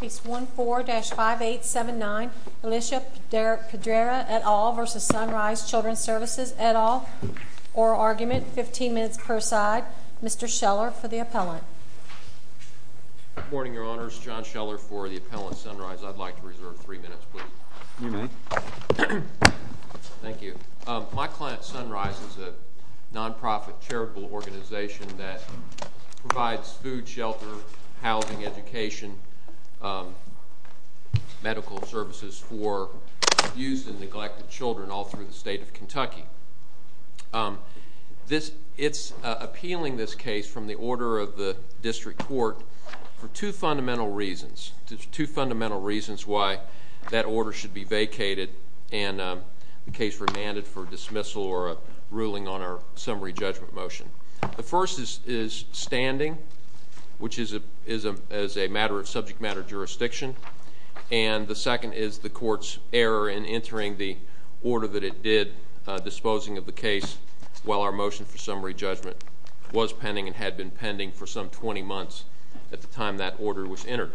Case 14-5879, Alicia Pedreira et al. v. Sunrise Childrens Services et al. Oral argument, 15 minutes per side. Mr. Scheller for the appellant. Good morning, Your Honors. John Scheller for the appellant, Sunrise. I'd like to reserve three minutes, please. You may. Thank you. My client, Sunrise, is a nonprofit charitable organization that provides food, shelter, housing, education, medical services for abused and neglected children all through the state of Kentucky. It's appealing this case from the order of the district court for two fundamental reasons. Two fundamental reasons why that order should be vacated and the case remanded for dismissal or a ruling on our summary judgment motion. The first is standing, which is a matter of subject matter jurisdiction. And the second is the court's error in entering the order that it did, disposing of the case while our motion for summary judgment was pending and had been pending for some 20 months at the time that order was entered.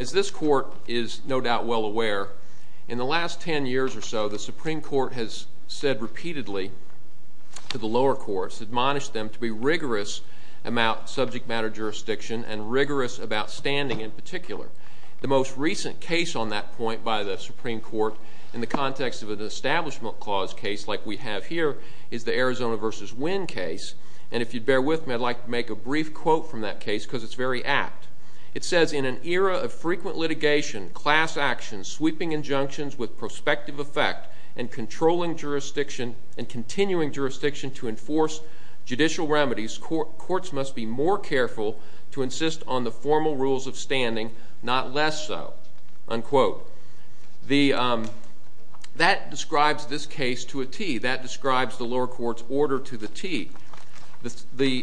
As this court is no doubt well aware, in the last 10 years or so, the Supreme Court has said repeatedly to the lower courts, admonished them to be rigorous about subject matter jurisdiction and rigorous about standing in particular. The most recent case on that point by the Supreme Court in the context of an Establishment Clause case like we have here is the Arizona v. Wynn case. And if you'd bear with me, I'd like to make a brief quote from that case because it's very apt. It says, in an era of frequent litigation, class action, sweeping injunctions with prospective effect, and controlling jurisdiction and continuing jurisdiction to enforce judicial remedies, courts must be more careful to insist on the formal rules of standing, not less so, unquote. That describes this case to a T. That describes the lower court's order to the T. We're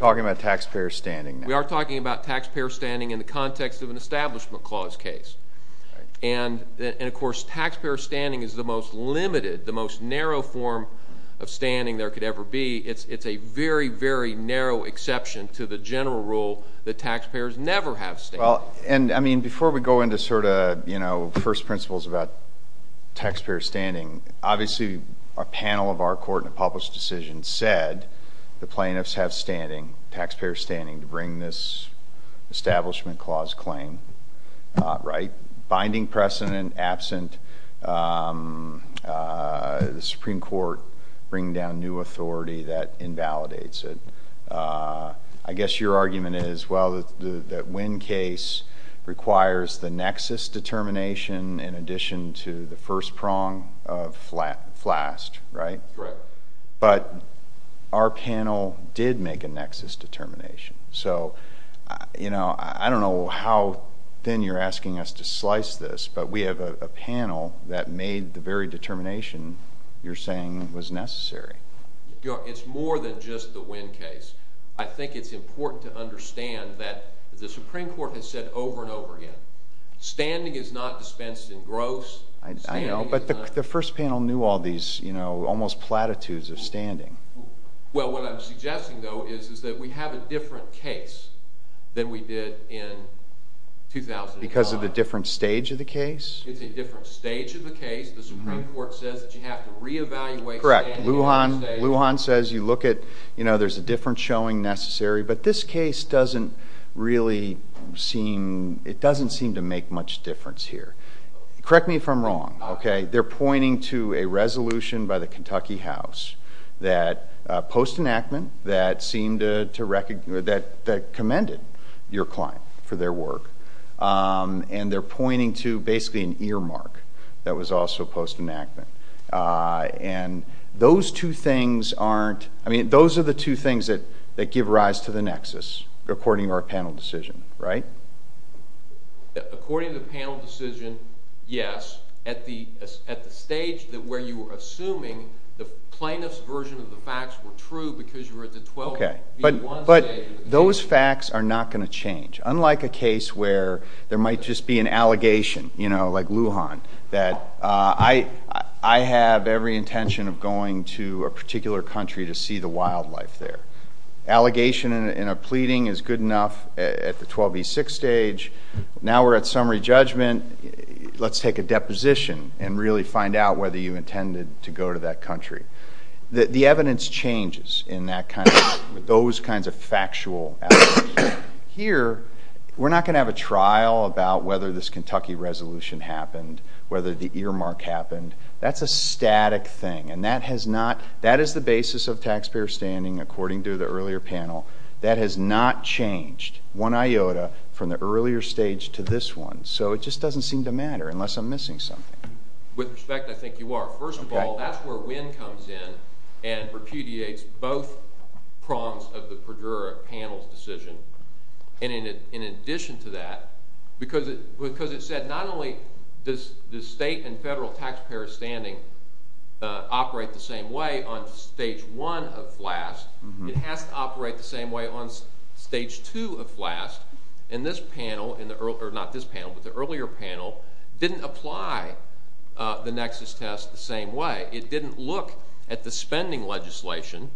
talking about taxpayer standing now. We are talking about taxpayer standing in the context of an Establishment Clause case. And, of course, taxpayer standing is the most limited, the most narrow form of standing there could ever be. It's a very, very narrow exception to the general rule that taxpayers never have standing. Well, and, I mean, before we go into sort of, you know, first principles about taxpayer standing, obviously a panel of our court in a published decision said the plaintiffs have standing, taxpayer standing, to bring this Establishment Clause claim, right? Binding precedent absent, the Supreme Court bringing down new authority that invalidates it. I guess your argument is, well, that Winn case requires the nexus determination in addition to the first prong of FLAST, right? Correct. But our panel did make a nexus determination. So, you know, I don't know how thin you're asking us to slice this, but we have a panel that made the very determination you're saying was necessary. It's more than just the Winn case. I think it's important to understand that the Supreme Court has said over and over again, standing is not dispensed in gross. I know, but the first panel knew all these, you know, almost platitudes of standing. Well, what I'm suggesting, though, is that we have a different case than we did in 2005. Because of the different stage of the case? It's a different stage of the case. The Supreme Court says that you have to reevaluate standing. That's correct. Lujan says you look at, you know, there's a different showing necessary. But this case doesn't really seem, it doesn't seem to make much difference here. Correct me if I'm wrong, okay? They're pointing to a resolution by the Kentucky House that post-enactment that seemed to, that commended your client for their work. And they're pointing to basically an earmark that was also post-enactment. And those two things aren't, I mean, those are the two things that give rise to the nexus, according to our panel decision, right? According to the panel decision, yes. At the stage where you were assuming the plaintiff's version of the facts were true because you were at the 12 v. 1 stage. But those facts are not going to change. Unlike a case where there might just be an allegation, you know, like Lujan, that I have every intention of going to a particular country to see the wildlife there. Allegation in a pleading is good enough at the 12 v. 6 stage. Now we're at summary judgment. Let's take a deposition and really find out whether you intended to go to that country. The evidence changes in that kind of, those kinds of factual allegations. Here, we're not going to have a trial about whether this Kentucky resolution happened, whether the earmark happened. That's a static thing, and that has not, that is the basis of taxpayer standing according to the earlier panel. That has not changed one iota from the earlier stage to this one. So it just doesn't seem to matter unless I'm missing something. With respect, I think you are. First of all, that's where Winn comes in and repudiates both prongs of the Perdura panel's decision. And in addition to that, because it said not only does state and federal taxpayer standing operate the same way on stage one of FLAST, it has to operate the same way on stage two of FLAST. And this panel, or not this panel, but the earlier panel, didn't apply the nexus test the same way. It didn't look at the spending legislation,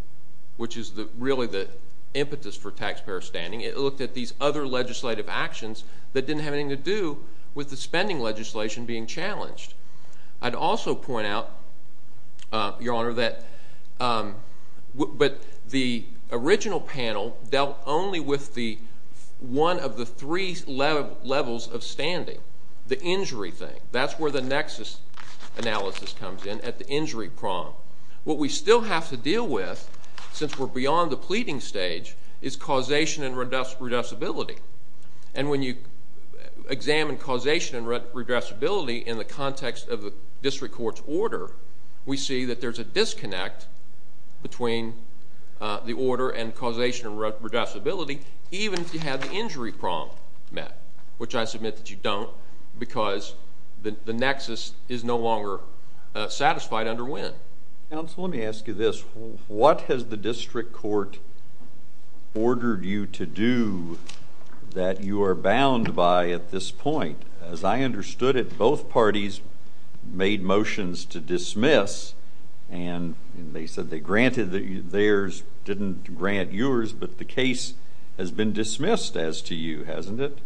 which is really the impetus for taxpayer standing. It looked at these other legislative actions that didn't have anything to do with the spending legislation being challenged. I'd also point out, Your Honor, that the original panel dealt only with one of the three levels of standing, the injury thing. That's where the nexus analysis comes in, at the injury prong. What we still have to deal with, since we're beyond the pleading stage, is causation and redressability. And when you examine causation and redressability in the context of the district court's order, we see that there's a disconnect between the order and causation and redressability, even if you have the injury prong met, which I submit that you don't because the nexus is no longer satisfied under Winn. Counsel, let me ask you this. What has the district court ordered you to do that you are bound by at this point? As I understood it, both parties made motions to dismiss, and they said they granted theirs, didn't grant yours, but the case has been dismissed as to you, hasn't it?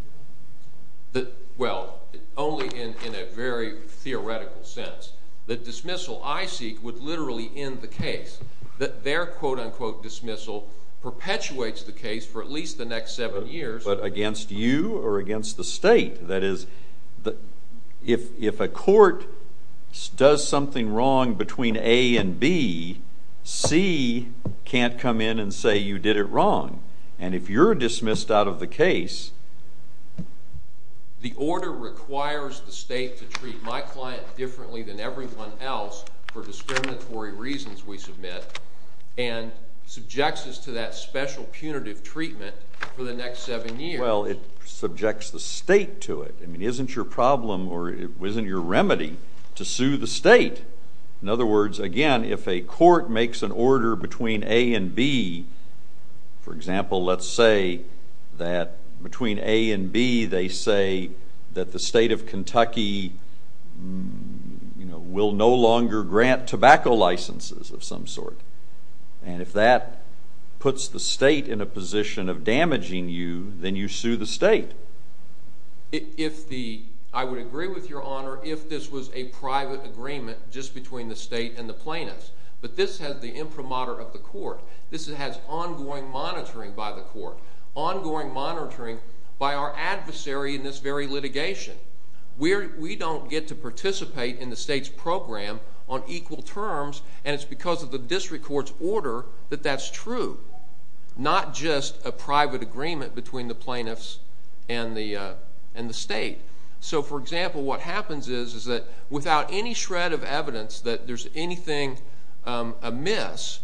Well, only in a very theoretical sense. The dismissal I seek would literally end the case. Their quote-unquote dismissal perpetuates the case for at least the next seven years. But against you or against the state? That is, if a court does something wrong between A and B, C can't come in and say you did it wrong. And if you're dismissed out of the case, the order requires the state to treat my client differently than everyone else for discriminatory reasons, we submit, and subjects us to that special punitive treatment for the next seven years. Well, it subjects the state to it. I mean, isn't your problem or isn't your remedy to sue the state? In other words, again, if a court makes an order between A and B, for example, let's say that between A and B, they say that the state of Kentucky will no longer grant tobacco licenses of some sort. And if that puts the state in a position of damaging you, then you sue the state. I would agree with Your Honor if this was a private agreement just between the state and the plaintiffs. But this has the imprimatur of the court. This has ongoing monitoring by the court, ongoing monitoring by our adversary in this very litigation. We don't get to participate in the state's program on equal terms, and it's because of the district court's order that that's true, not just a private agreement between the plaintiffs and the state. So, for example, what happens is that without any shred of evidence that there's anything amiss,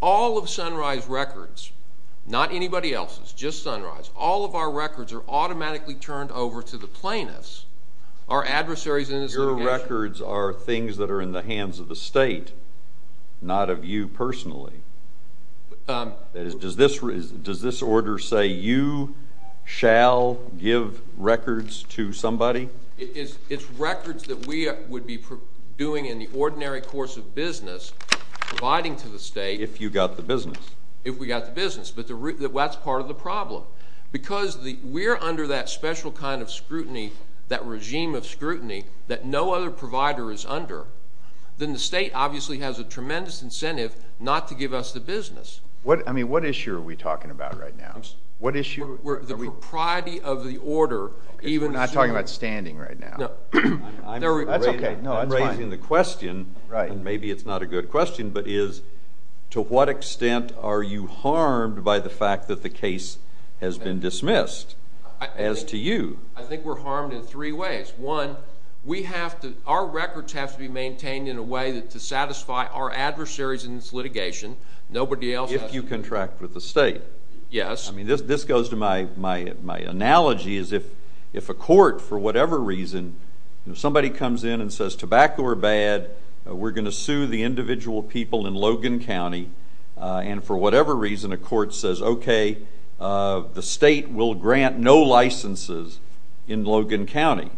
all of Sunrise Records, not anybody else's, just Sunrise, all of our records are automatically turned over to the plaintiffs, our adversaries in this litigation. Your records are things that are in the hands of the state, not of you personally. Does this order say you shall give records to somebody? It's records that we would be doing in the ordinary course of business, providing to the state. If you got the business. If we got the business, but that's part of the problem. Because we're under that special kind of scrutiny, that regime of scrutiny that no other provider is under, then the state obviously has a tremendous incentive not to give us the business. I mean, what issue are we talking about right now? The propriety of the order. We're not talking about standing right now. That's okay. I'm raising the question, and maybe it's not a good question, but is to what extent are you harmed by the fact that the case has been dismissed as to you? I think we're harmed in three ways. One, our records have to be maintained in a way to satisfy our adversaries in this litigation. Nobody else has. If you contract with the state. Yes. I mean, this goes to my analogy is if a court, for whatever reason, somebody comes in and says tobacco are bad, we're going to sue the individual people in Logan County, and for whatever reason a court says, okay, the state will grant no licenses in Logan County.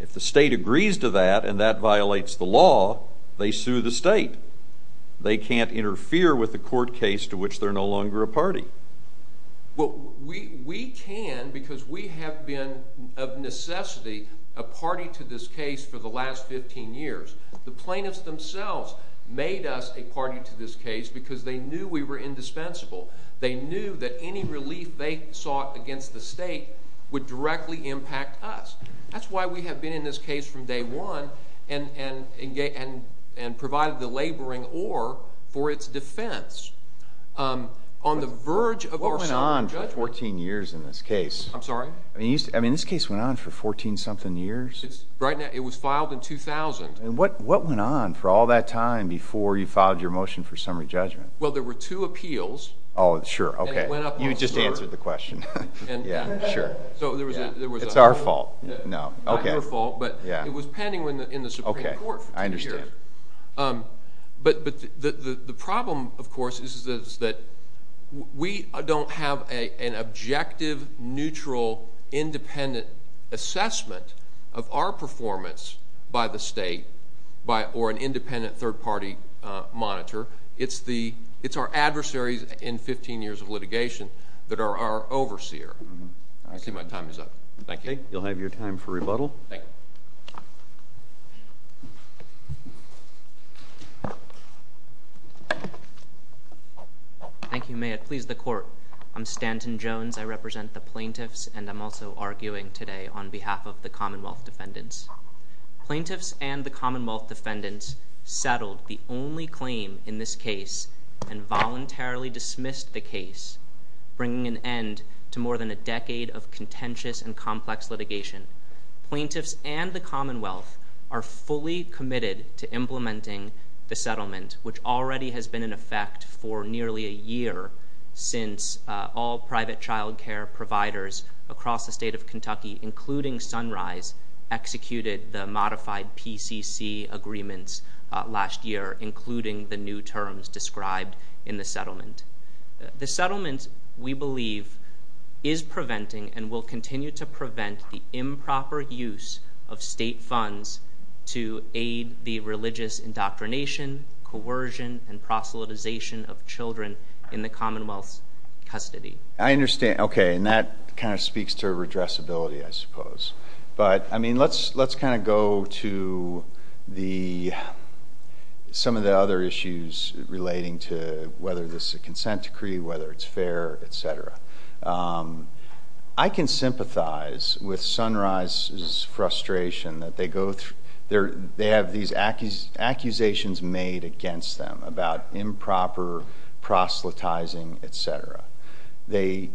If the state agrees to that and that violates the law, they sue the state. They can't interfere with a court case to which they're no longer a party. Well, we can because we have been of necessity a party to this case for the last 15 years. The plaintiffs themselves made us a party to this case because they knew we were indispensable. They knew that any relief they sought against the state would directly impact us. That's why we have been in this case from day one and provided the laboring oar for its defense. What went on for 14 years in this case? I'm sorry? I mean, this case went on for 14-something years? It was filed in 2000. And what went on for all that time before you filed your motion for summary judgment? Well, there were two appeals. Oh, sure. You just answered the question. Sure. It's our fault. Not your fault, but it was pending in the Supreme Court for two years. I understand. But the problem, of course, is that we don't have an objective, neutral, independent assessment of our performance by the state or an independent third-party monitor. It's our adversaries in 15 years of litigation that are our overseer. I see my time is up. Thank you. You'll have your time for rebuttal. Thank you. Thank you. May it please the Court. I'm Stanton Jones. I represent the plaintiffs, and I'm also arguing today on behalf of the Commonwealth defendants. Plaintiffs and the Commonwealth defendants settled the only claim in this case and voluntarily dismissed the case, bringing an end to more than a decade of contentious and complex litigation. Plaintiffs and the Commonwealth are fully committed to implementing the settlement, which already has been in effect for nearly a year since all private child care providers across the state of Kentucky, including Sunrise, executed the modified PCC agreements last year, including the new terms described in the settlement. The settlement, we believe, is preventing and will continue to prevent the improper use of state funds to aid the religious indoctrination, coercion, and proselytization of children in the Commonwealth's custody. I understand. Okay. And that kind of speaks to redressability, I suppose. But, I mean, let's kind of go to some of the other issues relating to whether this is a consent decree, whether it's fair, et cetera. I can sympathize with Sunrise's frustration that they have these accusations made against them about improper proselytizing, et cetera. They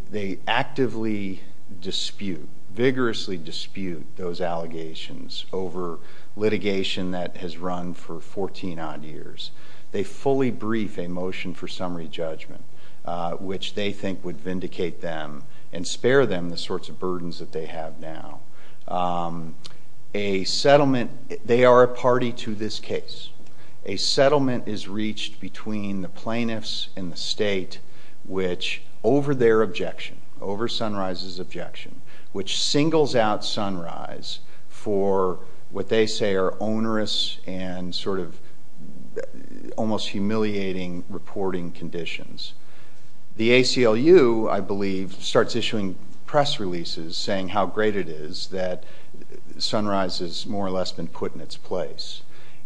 actively dispute, vigorously dispute those allegations over litigation that has run for 14-odd years. They fully brief a motion for summary judgment, which they think would vindicate them and spare them the sorts of burdens that they have now. A settlement, they are a party to this case. A settlement is reached between the plaintiffs and the state, which over their objection, over Sunrise's objection, which singles out Sunrise for what they say are onerous and sort of almost humiliating reporting conditions. The ACLU, I believe, starts issuing press releases saying how great it is that Sunrise has more or less been put in its place.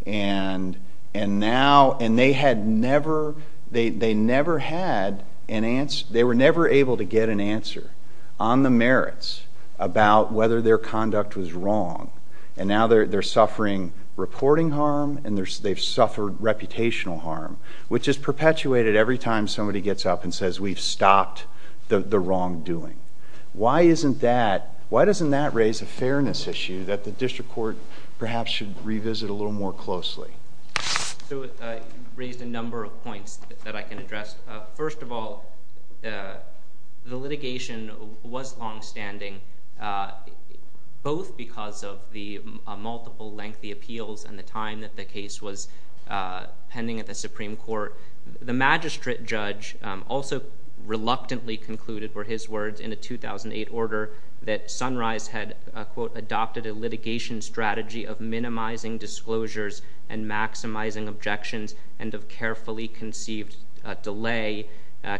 And now, and they had never, they never had an answer, they were never able to get an answer on the merits about whether their conduct was wrong. And now they're suffering reporting harm, and they've suffered reputational harm, which is perpetuated every time somebody gets up and says we've stopped the wrongdoing. Why isn't that, why doesn't that raise a fairness issue that the district court perhaps should revisit a little more closely? So you raised a number of points that I can address. First of all, the litigation was longstanding, both because of the multiple lengthy appeals and the time that the case was pending at the Supreme Court. The magistrate judge also reluctantly concluded, were his words in a 2008 order, that Sunrise had, quote, adopted a litigation strategy of minimizing disclosures and maximizing objections, and of carefully conceived delay,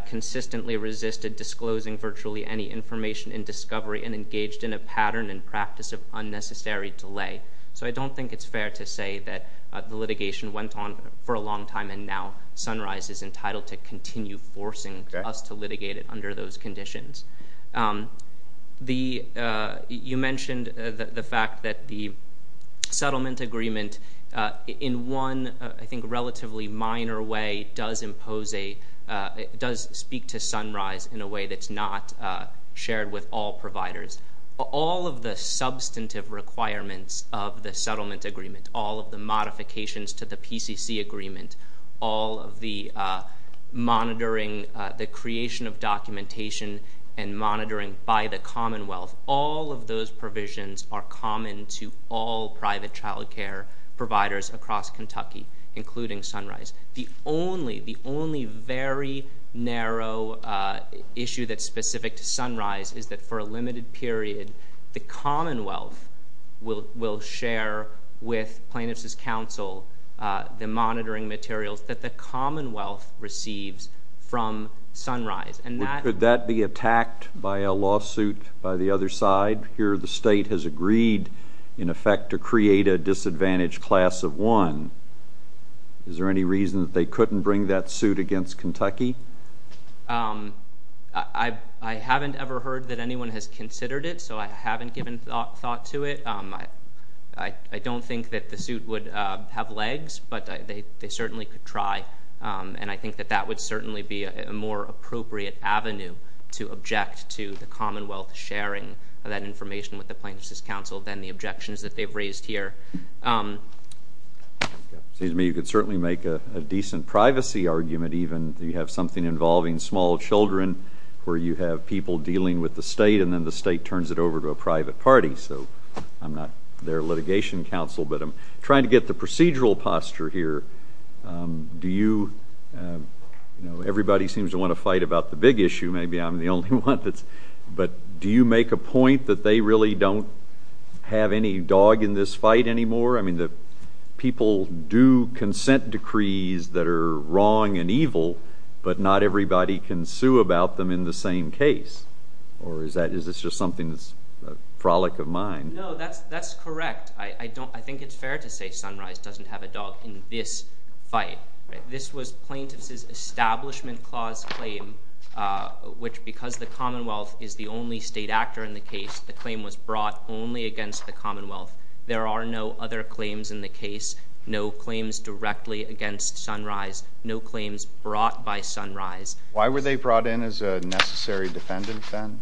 consistently resisted disclosing virtually any information in discovery, and engaged in a pattern and practice of unnecessary delay. So I don't think it's fair to say that the litigation went on for a long time, and now Sunrise is entitled to continue forcing us to litigate it under those conditions. The, you mentioned the fact that the settlement agreement, in one, I think, relatively minor way, does impose a, does speak to Sunrise in a way that's not shared with all providers. All of the substantive requirements of the settlement agreement, all of the modifications to the PCC agreement, all of the monitoring, the creation of documentation and monitoring by the Commonwealth, all of those provisions are common to all private child care providers across Kentucky, including Sunrise. The only, the only very narrow issue that's specific to Sunrise is that for a limited period, the Commonwealth will share with plaintiffs' counsel the monitoring materials that the Commonwealth receives from Sunrise. Could that be attacked by a lawsuit by the other side? Here the state has agreed, in effect, to create a disadvantaged class of one. Is there any reason that they couldn't bring that suit against Kentucky? I haven't ever heard that anyone has considered it, so I haven't given thought to it. I don't think that the suit would have legs, but they certainly could try, and I think that that would certainly be a more appropriate avenue to object to the Commonwealth sharing that information with the plaintiffs' counsel than the objections that they've raised here. It seems to me you could certainly make a decent privacy argument, even, that you have something involving small children where you have people dealing with the state and then the state turns it over to a private party. So I'm not their litigation counsel, but I'm trying to get the procedural posture here. Do you, you know, everybody seems to want to fight about the big issue. Maybe I'm the only one that's, but do you make a point that they really don't have any dog in this fight anymore? I mean, people do consent decrees that are wrong and evil, but not everybody can sue about them in the same case. Or is that, is this just something that's a frolic of mind? No, that's correct. I don't, I think it's fair to say Sunrise doesn't have a dog in this fight. This was plaintiffs' establishment clause claim, which because the Commonwealth is the only state actor in the case, the claim was brought only against the Commonwealth. There are no other claims in the case, no claims directly against Sunrise, no claims brought by Sunrise. Why were they brought in as a necessary defendant then?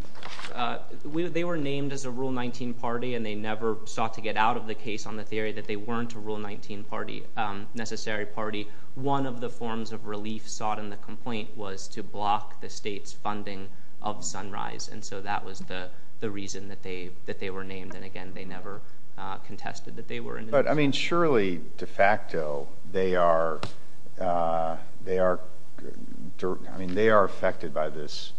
They were named as a Rule 19 party and they never sought to get out of the case on the theory that they weren't a Rule 19 party, a necessary party. One of the forms of relief sought in the complaint was to block the state's funding of Sunrise, and so that was the reason that they were named, and again, they never contested that they were. But, I mean, surely, de facto, they are, I mean, they are affected by this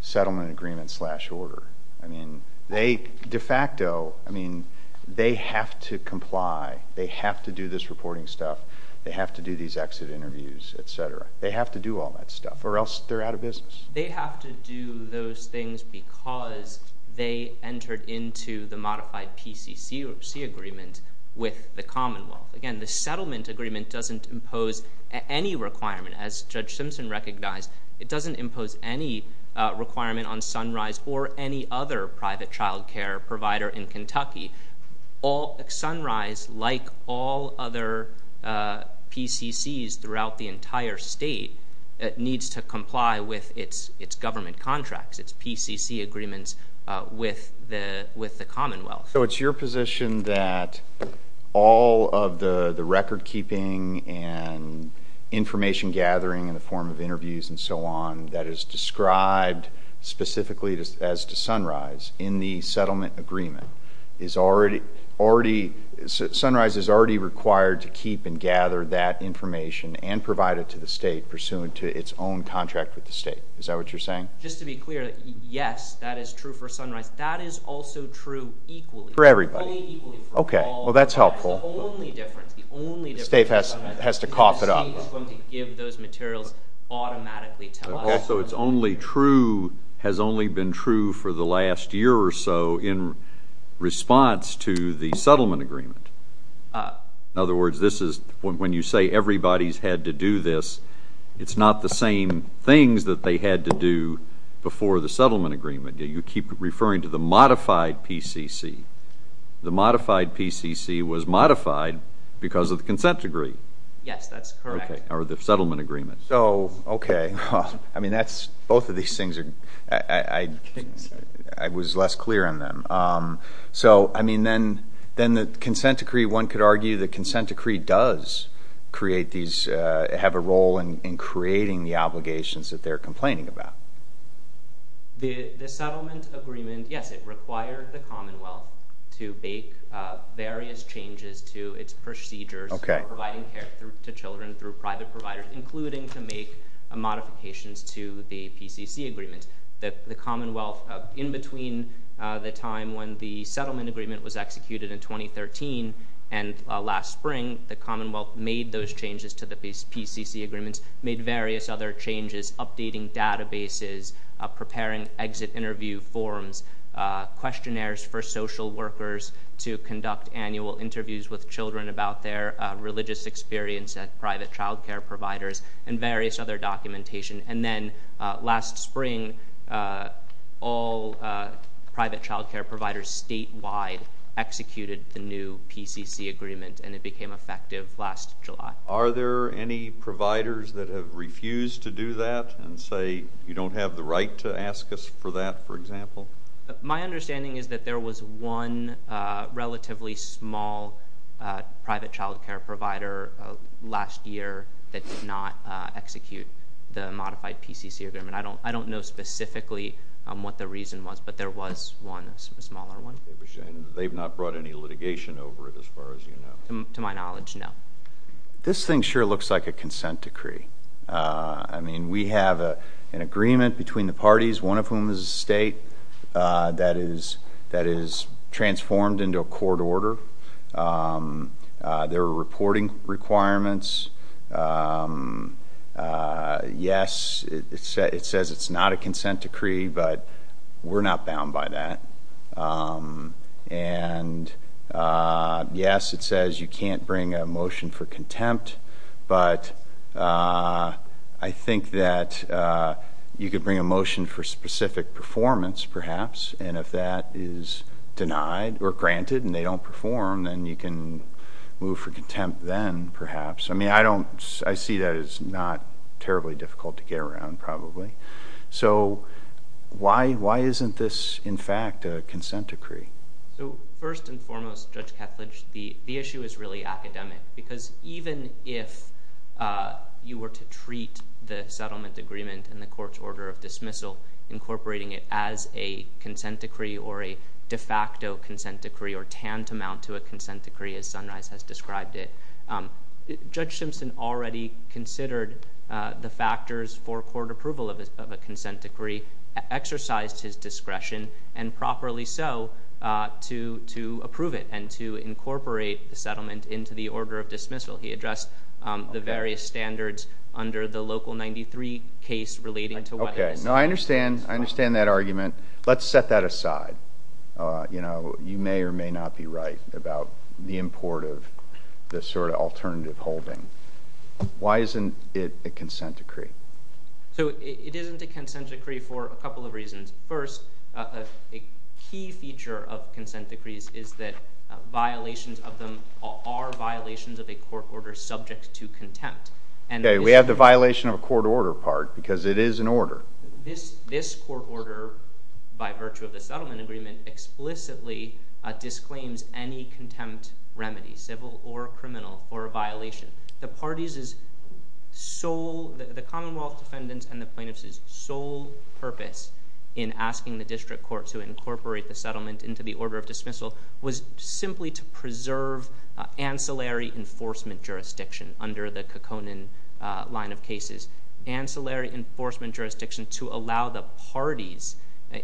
settlement agreement slash order. I mean, they, de facto, I mean, they have to comply. They have to do this reporting stuff. They have to do these exit interviews, etc. They have to do all that stuff or else they're out of business. They have to do those things because they entered into the modified PCC or C agreement with the Commonwealth. Again, the settlement agreement doesn't impose any requirement. As Judge Simpson recognized, it doesn't impose any requirement on Sunrise or any other private child care provider in Kentucky. Sunrise, like all other PCCs throughout the entire state, needs to comply with its government contracts, its PCC agreements with the Commonwealth. So it's your position that all of the record keeping and information gathering in the form of interviews and so on that is described specifically as to Sunrise in the settlement agreement is already, already, Sunrise is already required to keep and gather that information and provide it to the state pursuant to its own contract with the state. Is that what you're saying? Just to be clear, yes, that is true for Sunrise. That is also true equally. For everybody. Only equally for all. Okay, well, that's helpful. That's the only difference. The only difference. The state has to cough it up. The state is going to give those materials automatically to us. Also, it's only true, has only been true for the last year or so in response to the settlement agreement. In other words, this is, when you say everybody's had to do this, it's not the same things that they had to do before the settlement agreement. You keep referring to the modified PCC. The modified PCC was modified because of the consent decree. Yes, that's correct. Okay, or the settlement agreement. So, okay. I mean, that's, both of these things are, I was less clear on them. So, I mean, then the consent decree, one could argue the consent decree does create these, have a role in creating the obligations that they're complaining about. The settlement agreement, yes, it required the Commonwealth to make various changes to its procedures. Okay. Providing care to children through private providers, including to make modifications to the PCC agreement. The Commonwealth, in between the time when the settlement agreement was executed in 2013 and last spring, the Commonwealth made those changes to the PCC agreements, made various other changes, updating databases, preparing exit interview forms, questionnaires for social workers to conduct annual interviews with children about their religious experience at private child care providers, and various other documentation. And then, last spring, all private child care providers statewide executed the new PCC agreement, and it became effective last July. Are there any providers that have refused to do that and say you don't have the right to ask us for that, for example? My understanding is that there was one relatively small private child care provider last year that did not execute the modified PCC agreement. I don't know specifically what the reason was, but there was one, a smaller one. They've not brought any litigation over it, as far as you know? To my knowledge, no. This thing sure looks like a consent decree. I mean, we have an agreement between the parties, one of whom is a state that is transformed into a court order. There are reporting requirements. Yes, it says it's not a consent decree, but we're not bound by that. And yes, it says you can't bring a motion for contempt, but I think that you could bring a motion for specific performance, perhaps, and if that is denied or granted and they don't perform, then you can move for contempt then, perhaps. I mean, I see that as not terribly difficult to get around, probably. So why isn't this, in fact, a consent decree? First and foremost, Judge Kethledge, the issue is really academic because even if you were to treat the settlement agreement and the court's order of dismissal, incorporating it as a consent decree or a de facto consent decree or tantamount to a consent decree, as Sunrise has described it, Judge Simpson already considered the factors for court approval of a consent decree, exercised his discretion, and properly so, to approve it and to incorporate the settlement into the order of dismissal. He addressed the various standards under the Local 93 case relating to whether the settlement is a consent decree. Okay. No, I understand. I understand that argument. Let's set that aside. You know, you may or may not be right about the import of this sort of alternative holding. Why isn't it a consent decree? So it isn't a consent decree for a couple of reasons. First, a key feature of consent decrees is that violations of them are violations of a court order subject to contempt. Okay. We have the violation of a court order part because it is an order. This court order, by virtue of the settlement agreement, explicitly disclaims any contempt remedy, civil or criminal, for a violation. The parties' sole—the Commonwealth defendants and the plaintiffs' sole purpose in asking the district court to incorporate the settlement into the order of dismissal was simply to preserve ancillary enforcement jurisdiction under the Kekkonen line of cases. Ancillary enforcement jurisdiction to allow the parties,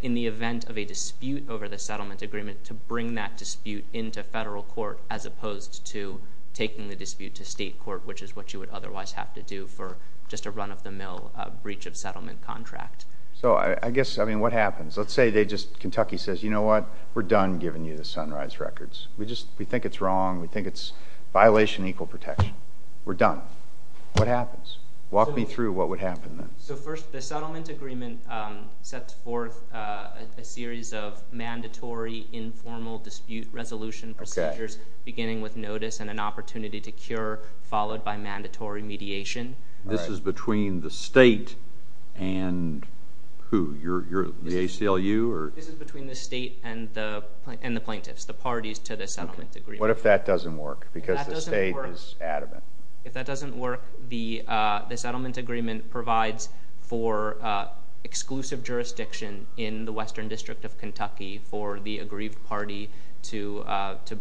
in the event of a dispute over the settlement agreement, to bring that dispute into federal court as opposed to taking the dispute to state court, which is what you would otherwise have to do for just a run-of-the-mill breach of settlement contract. So I guess—I mean, what happens? Let's say they just—Kentucky says, you know what? We're done giving you the Sunrise Records. We think it's wrong. We think it's violation of equal protection. We're done. What happens? Walk me through what would happen then. So first, the settlement agreement sets forth a series of mandatory informal dispute resolution procedures, beginning with notice and an opportunity to cure, followed by mandatory mediation. This is between the state and who? The ACLU? This is between the state and the plaintiffs, the parties to the settlement agreement. What if that doesn't work because the state is adamant? If that doesn't work, the settlement agreement provides for exclusive jurisdiction in the Western District of Kentucky for the aggrieved party to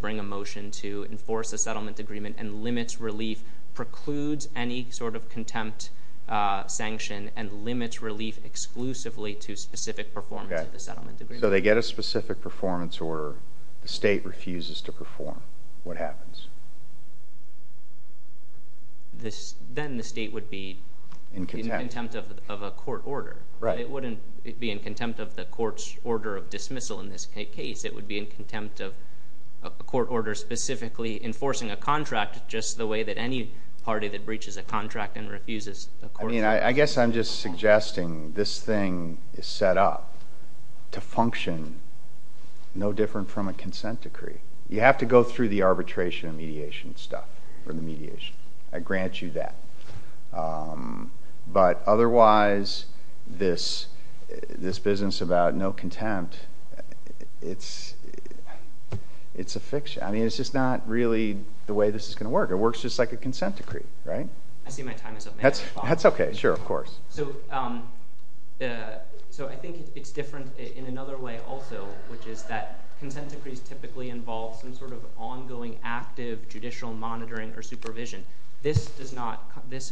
bring a motion to enforce a settlement agreement and limits relief, precludes any sort of contempt sanction, and limits relief exclusively to specific performance of the settlement agreement. So they get a specific performance order. The state refuses to perform. What happens? Then the state would be in contempt of a court order. It wouldn't be in contempt of the court's order of dismissal in this case. It would be in contempt of a court order specifically enforcing a contract just the way that any party that breaches a contract and refuses a court order. I guess I'm just suggesting this thing is set up to function no different from a consent decree. You have to go through the arbitration and mediation stuff. I grant you that. But otherwise, this business about no contempt, it's a fiction. I mean, it's just not really the way this is going to work. It works just like a consent decree, right? I see my time is up. That's okay. Sure, of course. So I think it's different in another way also, which is that consent decrees typically involve some sort of ongoing active judicial monitoring or supervision. This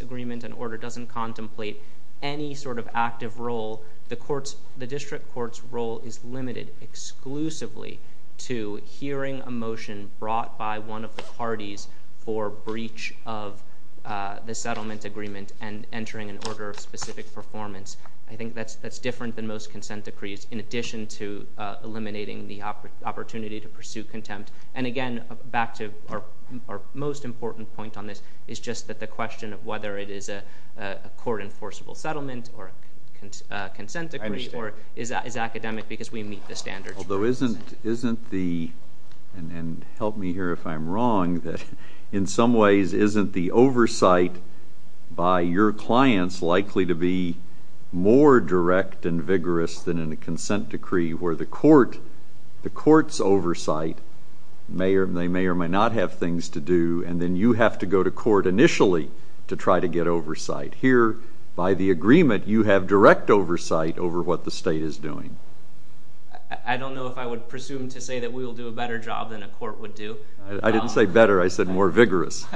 agreement and order doesn't contemplate any sort of active role. The district court's role is limited exclusively to hearing a motion brought by one of the parties for breach of the settlement agreement and entering an order of specific performance. I think that's different than most consent decrees. In addition to eliminating the opportunity to pursue contempt. And again, back to our most important point on this, is just that the question of whether it is a court-enforceable settlement or a consent decree or is that academic because we meet the standards. Although isn't the, and help me here if I'm wrong, that in some ways isn't the oversight by your clients likely to be more direct and vigorous than in a consent decree where the court's oversight, they may or may not have things to do, and then you have to go to court initially to try to get oversight. Here, by the agreement, you have direct oversight over what the state is doing. I don't know if I would presume to say that we will do a better job than a court would do. I didn't say better. I said more vigorous.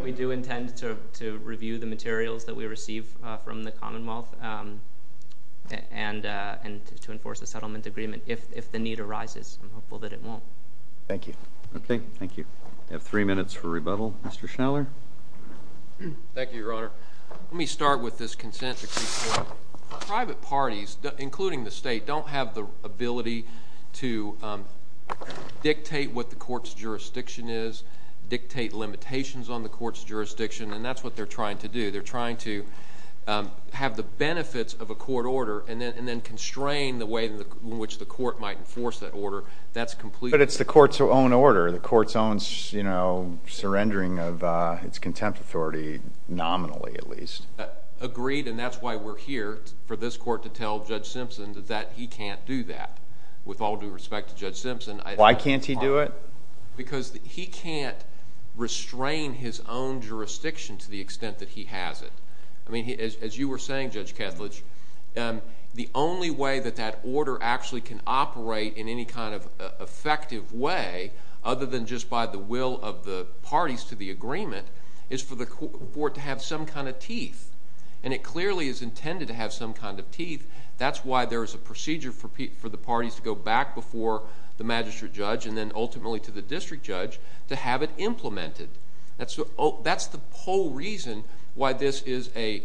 We do intend to review the materials that we receive from the Commonwealth and to enforce a settlement agreement if the need arises. I'm hopeful that it won't. Thank you. Okay, thank you. We have three minutes for rebuttal. Mr. Schneller. Thank you, Your Honor. Let me start with this consent decree. Private parties, including the state, don't have the ability to dictate what the court's jurisdiction is, dictate limitations on the court's jurisdiction, and that's what they're trying to do. They're trying to have the benefits of a court order and then constrain the way in which the court might enforce that order. But it's the court's own order, the court's own surrendering of its contempt authority, nominally at least. Agreed, and that's why we're here for this court to tell Judge Simpson that he can't do that. With all due respect to Judge Simpson... Why can't he do it? Because he can't restrain his own jurisdiction to the extent that he has it. I mean, as you were saying, Judge Ketledge, the only way that that order actually can operate in any kind of effective way other than just by the will of the parties to the agreement is for the court to have some kind of teeth, and it clearly is intended to have some kind of teeth. That's why there is a procedure for the parties to go back before the magistrate judge and then ultimately to the district judge to have it implemented. That's the whole reason why this is a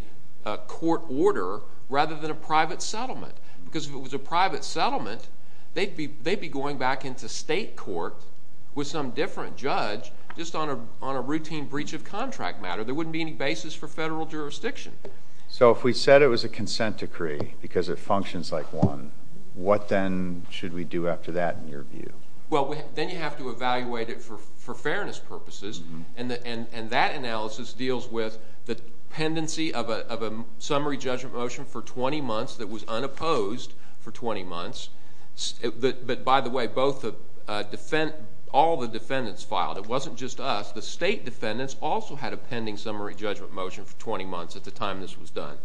court order rather than a private settlement, because if it was a private settlement, they'd be going back into state court with some different judge just on a routine breach of contract matter. There wouldn't be any basis for federal jurisdiction. So if we said it was a consent decree because it functions like one, what then should we do after that in your view? Well, then you have to evaluate it for fairness purposes, and that analysis deals with the pendency of a summary judgment motion for 20 months that was unopposed for 20 months. But by the way, all the defendants filed. It wasn't just us. The state defendants also had a pending summary judgment motion for 20 months at the time this was done.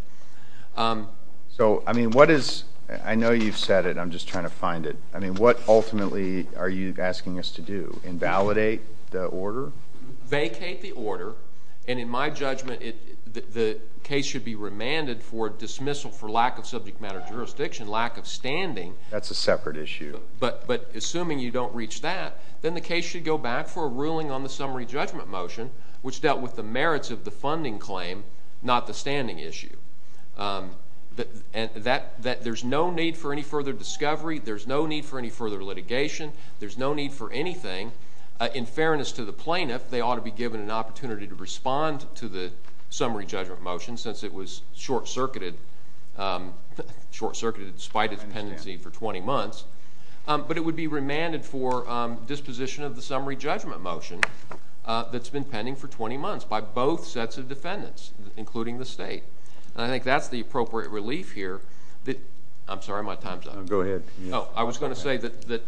So, I mean, what is – I know you've said it. I'm just trying to find it. I mean, what ultimately are you asking us to do, invalidate the order? Vacate the order, and in my judgment, the case should be remanded for dismissal for lack of subject matter jurisdiction, lack of standing. That's a separate issue. But assuming you don't reach that, then the case should go back for a ruling on the summary judgment motion, which dealt with the merits of the funding claim, not the standing issue. There's no need for any further discovery. There's no need for any further litigation. There's no need for anything. In fairness to the plaintiff, they ought to be given an opportunity to respond to the summary judgment motion since it was short-circuited despite its pendency for 20 months. But it would be remanded for disposition of the summary judgment motion that's been pending for 20 months by both sets of defendants, including the state. And I think that's the appropriate relief here. I'm sorry, my time's up. No, go ahead. I was going to say that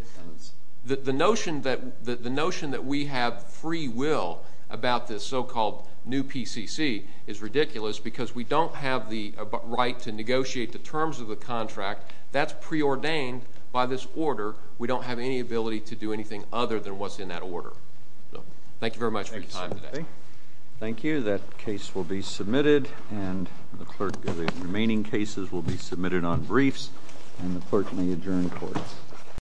the notion that we have free will about this so-called new PCC is ridiculous because we don't have the right to negotiate the terms of the contract. That's preordained by this order. We don't have any ability to do anything other than what's in that order. Thank you very much for your time today. Thank you. That case will be submitted, and the remaining cases will be submitted on briefs, and the clerk may adjourn the court.